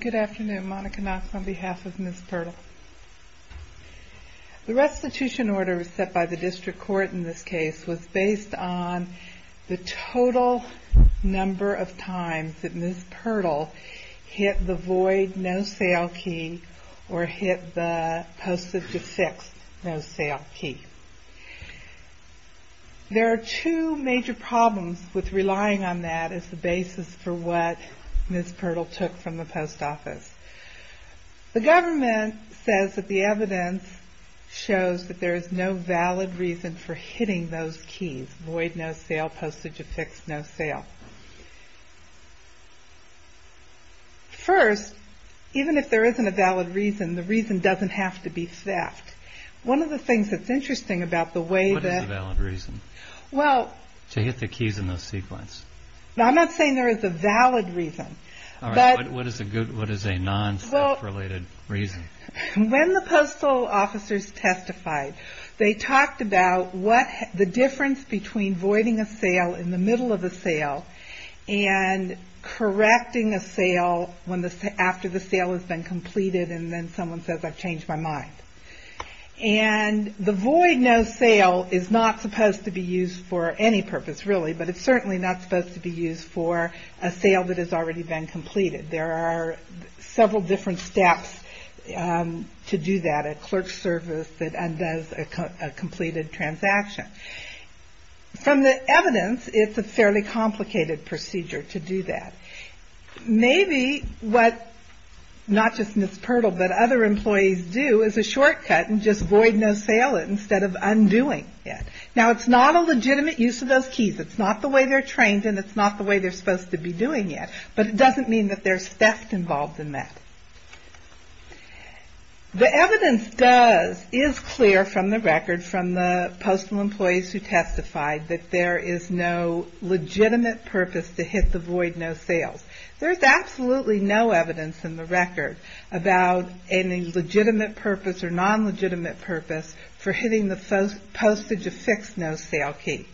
Good afternoon, Monica Knox on behalf of Ms. PIRTLE. The restitution order set by the district court in this case was based on the total number of times that Ms. PIRTLE hit the void no sale key or hit the posted to sixth no sale key. There are two major problems with what Ms. PIRTLE took from the post office. The government says that the evidence shows that there is no valid reason for hitting those keys, void no sale, posted to sixth no sale. First, even if there isn't a valid reason, the reason doesn't have to be theft. One of the things that's interesting about the way that... What is a valid reason to hit the keys in the sequence? I'm not saying there is a valid reason. What is a non-theft related reason? When the postal officers testified, they talked about the difference between voiding a sale in the middle of a sale and correcting a sale after the sale has been completed and then someone says I've changed my mind. The void no sale is not supposed to be used for any purpose really, but it's certainly not supposed to be used for a sale that has already been completed. There are several different steps to do that, a clerk's service that undoes a completed transaction. From the evidence, it's a fairly complicated procedure to do that. Maybe what not just Ms. Pirtle, but other employees do is a shortcut and just void no sale instead of undoing it. Now, it's not a legitimate use of those keys. It's not the way they're trained and it's not the way they're supposed to be doing it, but it doesn't mean that there's theft involved in that. The evidence does, is clear from the record from the postal employees who testified that there is no legitimate purpose to hit the void no sales. There's absolutely no evidence in the record about any legitimate purpose or non-legitimate purpose for hitting the postage of fixed no sale key.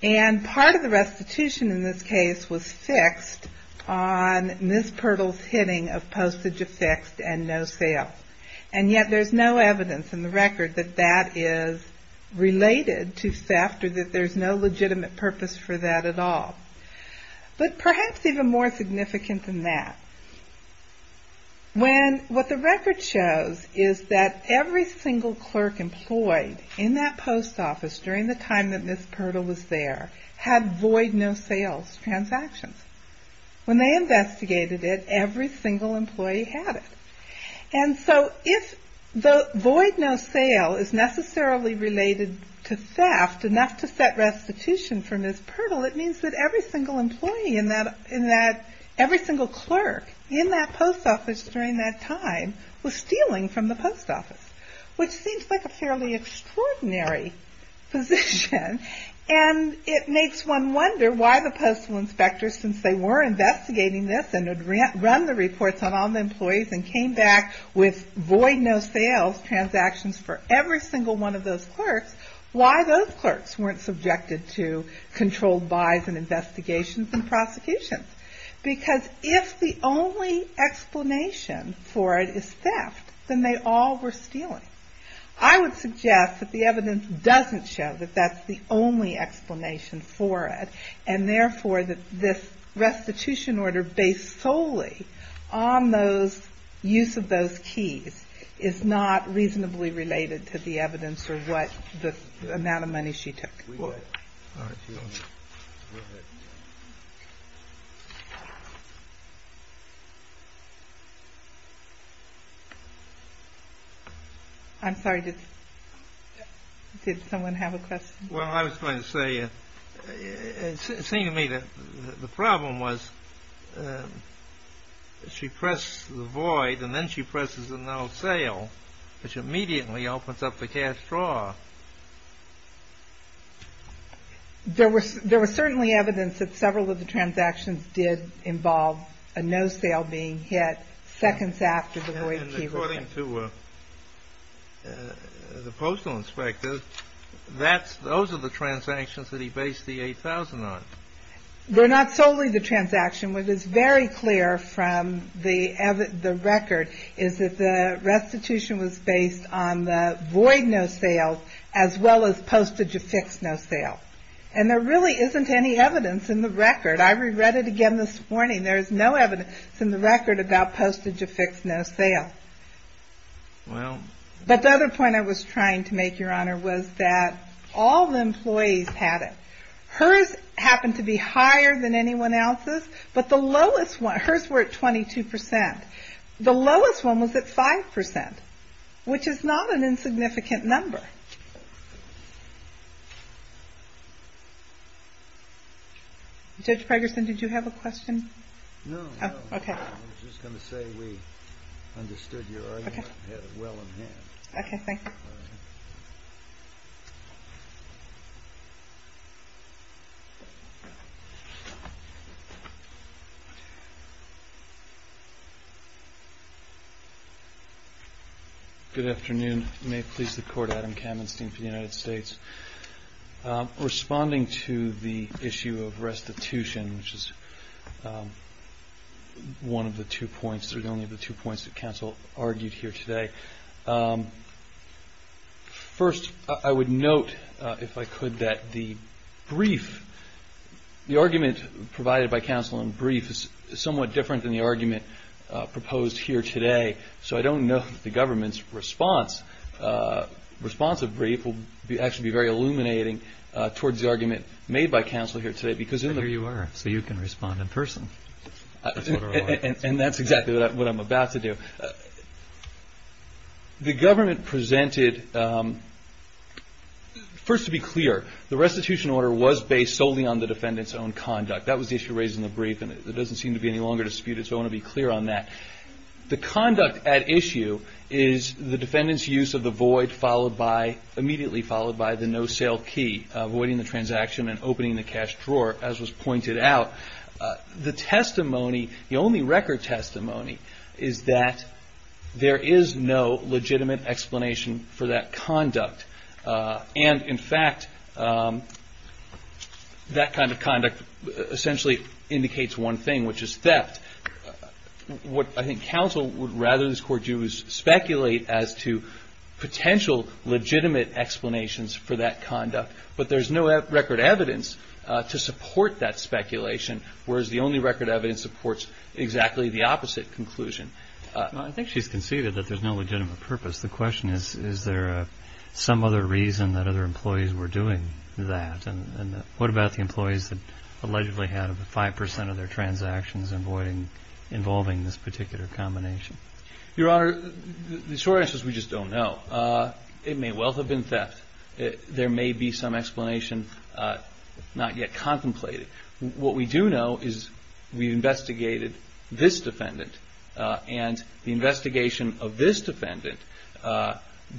And part of the restitution in this case was fixed on Ms. Pirtle's hitting of postage of fixed and no sale. And yet there's no evidence in the record that that is related to theft or that there's no legitimate purpose for that at all. But perhaps even more significant than that, when what the record shows is that every single clerk employed in that post office during the time that Ms. Pirtle was there had void no sales transactions. When they investigated it, every single employee had it. And so if the void no sale is necessarily related to theft enough to set restitution for Ms. Pirtle, it means that every single employee in that, every single clerk in that post office during that time was stealing from the post office. Which seems like a fairly extraordinary position. And it makes one wonder why the postal inspectors, since they were investigating this and had run the reports on all the employees and came back with void no sales transactions for every single one of those clerks, why those clerks weren't subjected to controlled buys and investigations and prosecutions. Because if the only explanation for it is theft, then they all were stealing. I would suggest that the evidence doesn't show that that's the only explanation for it, and therefore that this restitution order based solely on those, use of those keys is not reasonably related to the evidence or what the amount of money she took. I'm sorry, did someone have a question? Well, I was going to say, it seemed to me that the problem was she pressed the void and then she presses a no sale, which immediately opens up the cash draw. There was certainly evidence that several of the transactions did involve a no sale being hit seconds after the void key was hit. And according to the postal inspector, those are the transactions that he based the 8,000 on. They're not solely the transaction. What is very clear from the record is that the restitution was based on the void no sales, as well as postage of fixed no sale. And there really isn't any evidence in the record. I reread it again this morning. There is no evidence in the record about postage of fixed no sale. But the other point I was trying to make, Your Honor, was that all the employees had it. Hers happened to be higher than anyone else's. But the lowest one, hers were at 22%, the lowest one was at 5%, which is not an insignificant number. Judge Pregerson, did you have a question? No, I was just going to say we understood your argument well in hand. OK, thank you. Good afternoon. May it please the Court, Adam Kamenstein for the United States. Responding to the issue of restitution, which is one of the two points, or the only of the two points that counsel argued here today. First, I would note, if I could, that the brief, the argument provided by counsel in brief is somewhat different than the argument proposed here today. So I don't know if the government's response, response of brief, will actually be very illuminating towards the argument made by counsel here today. Because in the- And here you are, so you can respond in person. And that's exactly what I'm about to do. The government presented, first to be clear, the restitution order was based solely on the defendant's own conduct. That was the issue raised in the brief, and it doesn't seem to be any longer disputed, so I want to be clear on that. The conduct at issue is the defendant's use of the void, immediately followed by the no-sale key, avoiding the transaction and opening the cash drawer, as was pointed out. The testimony, the only record testimony, is that there is no legitimate explanation for that conduct. And, in fact, that kind of conduct essentially indicates one thing, which is theft. What I think counsel would rather this Court do is speculate as to potential legitimate explanations for that conduct. But there's no record evidence to support that speculation, whereas the only record evidence supports exactly the opposite conclusion. I think she's conceded that there's no legitimate purpose. The question is, is there some other reason that other employees were doing that? And what about the employees that allegedly had 5 percent of their transactions involving this particular combination? Your Honor, the short answer is we just don't know. It may well have been theft. There may be some explanation not yet contemplated. What we do know is we investigated this defendant, and the investigation of this defendant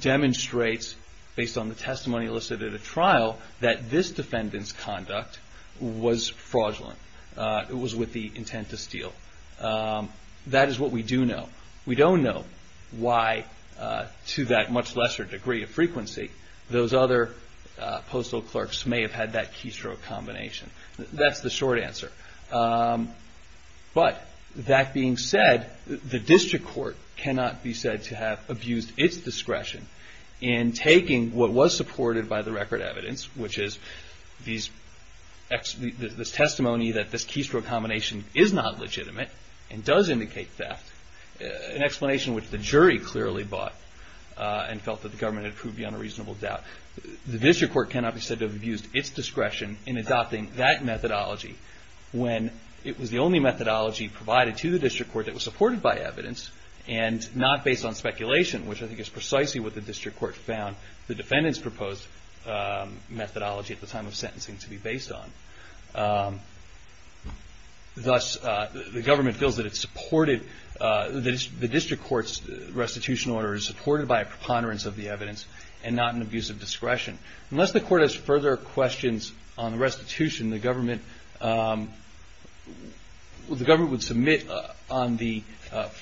demonstrates, based on the testimony listed at a trial, that this defendant's conduct was fraudulent. It was with the intent to steal. That is what we do know. We don't know why, to that much lesser degree of frequency, those other postal clerks may have had that keystroke combination. That's the short answer. But, that being said, the District Court cannot be said to have abused its discretion in taking what was supported by the record evidence, which is this testimony that this keystroke combination is not legitimate and does indicate theft, an explanation which the jury clearly bought and felt that the government had proved beyond a reasonable doubt. The District Court cannot be said to have abused its discretion in adopting that methodology when it was the only methodology provided to the District Court that was supported by evidence, and not based on speculation, which I think is precisely what the District Court found the defendant's proposed methodology at the time of sentencing to be based on. Thus, the government feels that the District Court's restitution order is supported by a preponderance of the evidence, and not an abuse of discretion. Unless the court has further questions on the restitution, the government would submit on the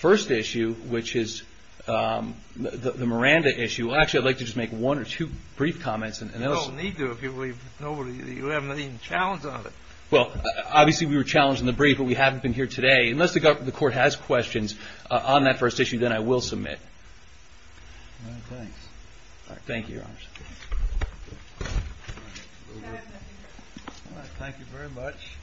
first issue, which is the Miranda issue. Actually, I'd like to just make one or two brief comments. You don't need to if you have no challenge on it. Well, obviously, we were challenged in the brief, but we haven't been here today. Unless the court has questions on that first issue, then I will submit. Thank you, Your Honor. Thank you very much.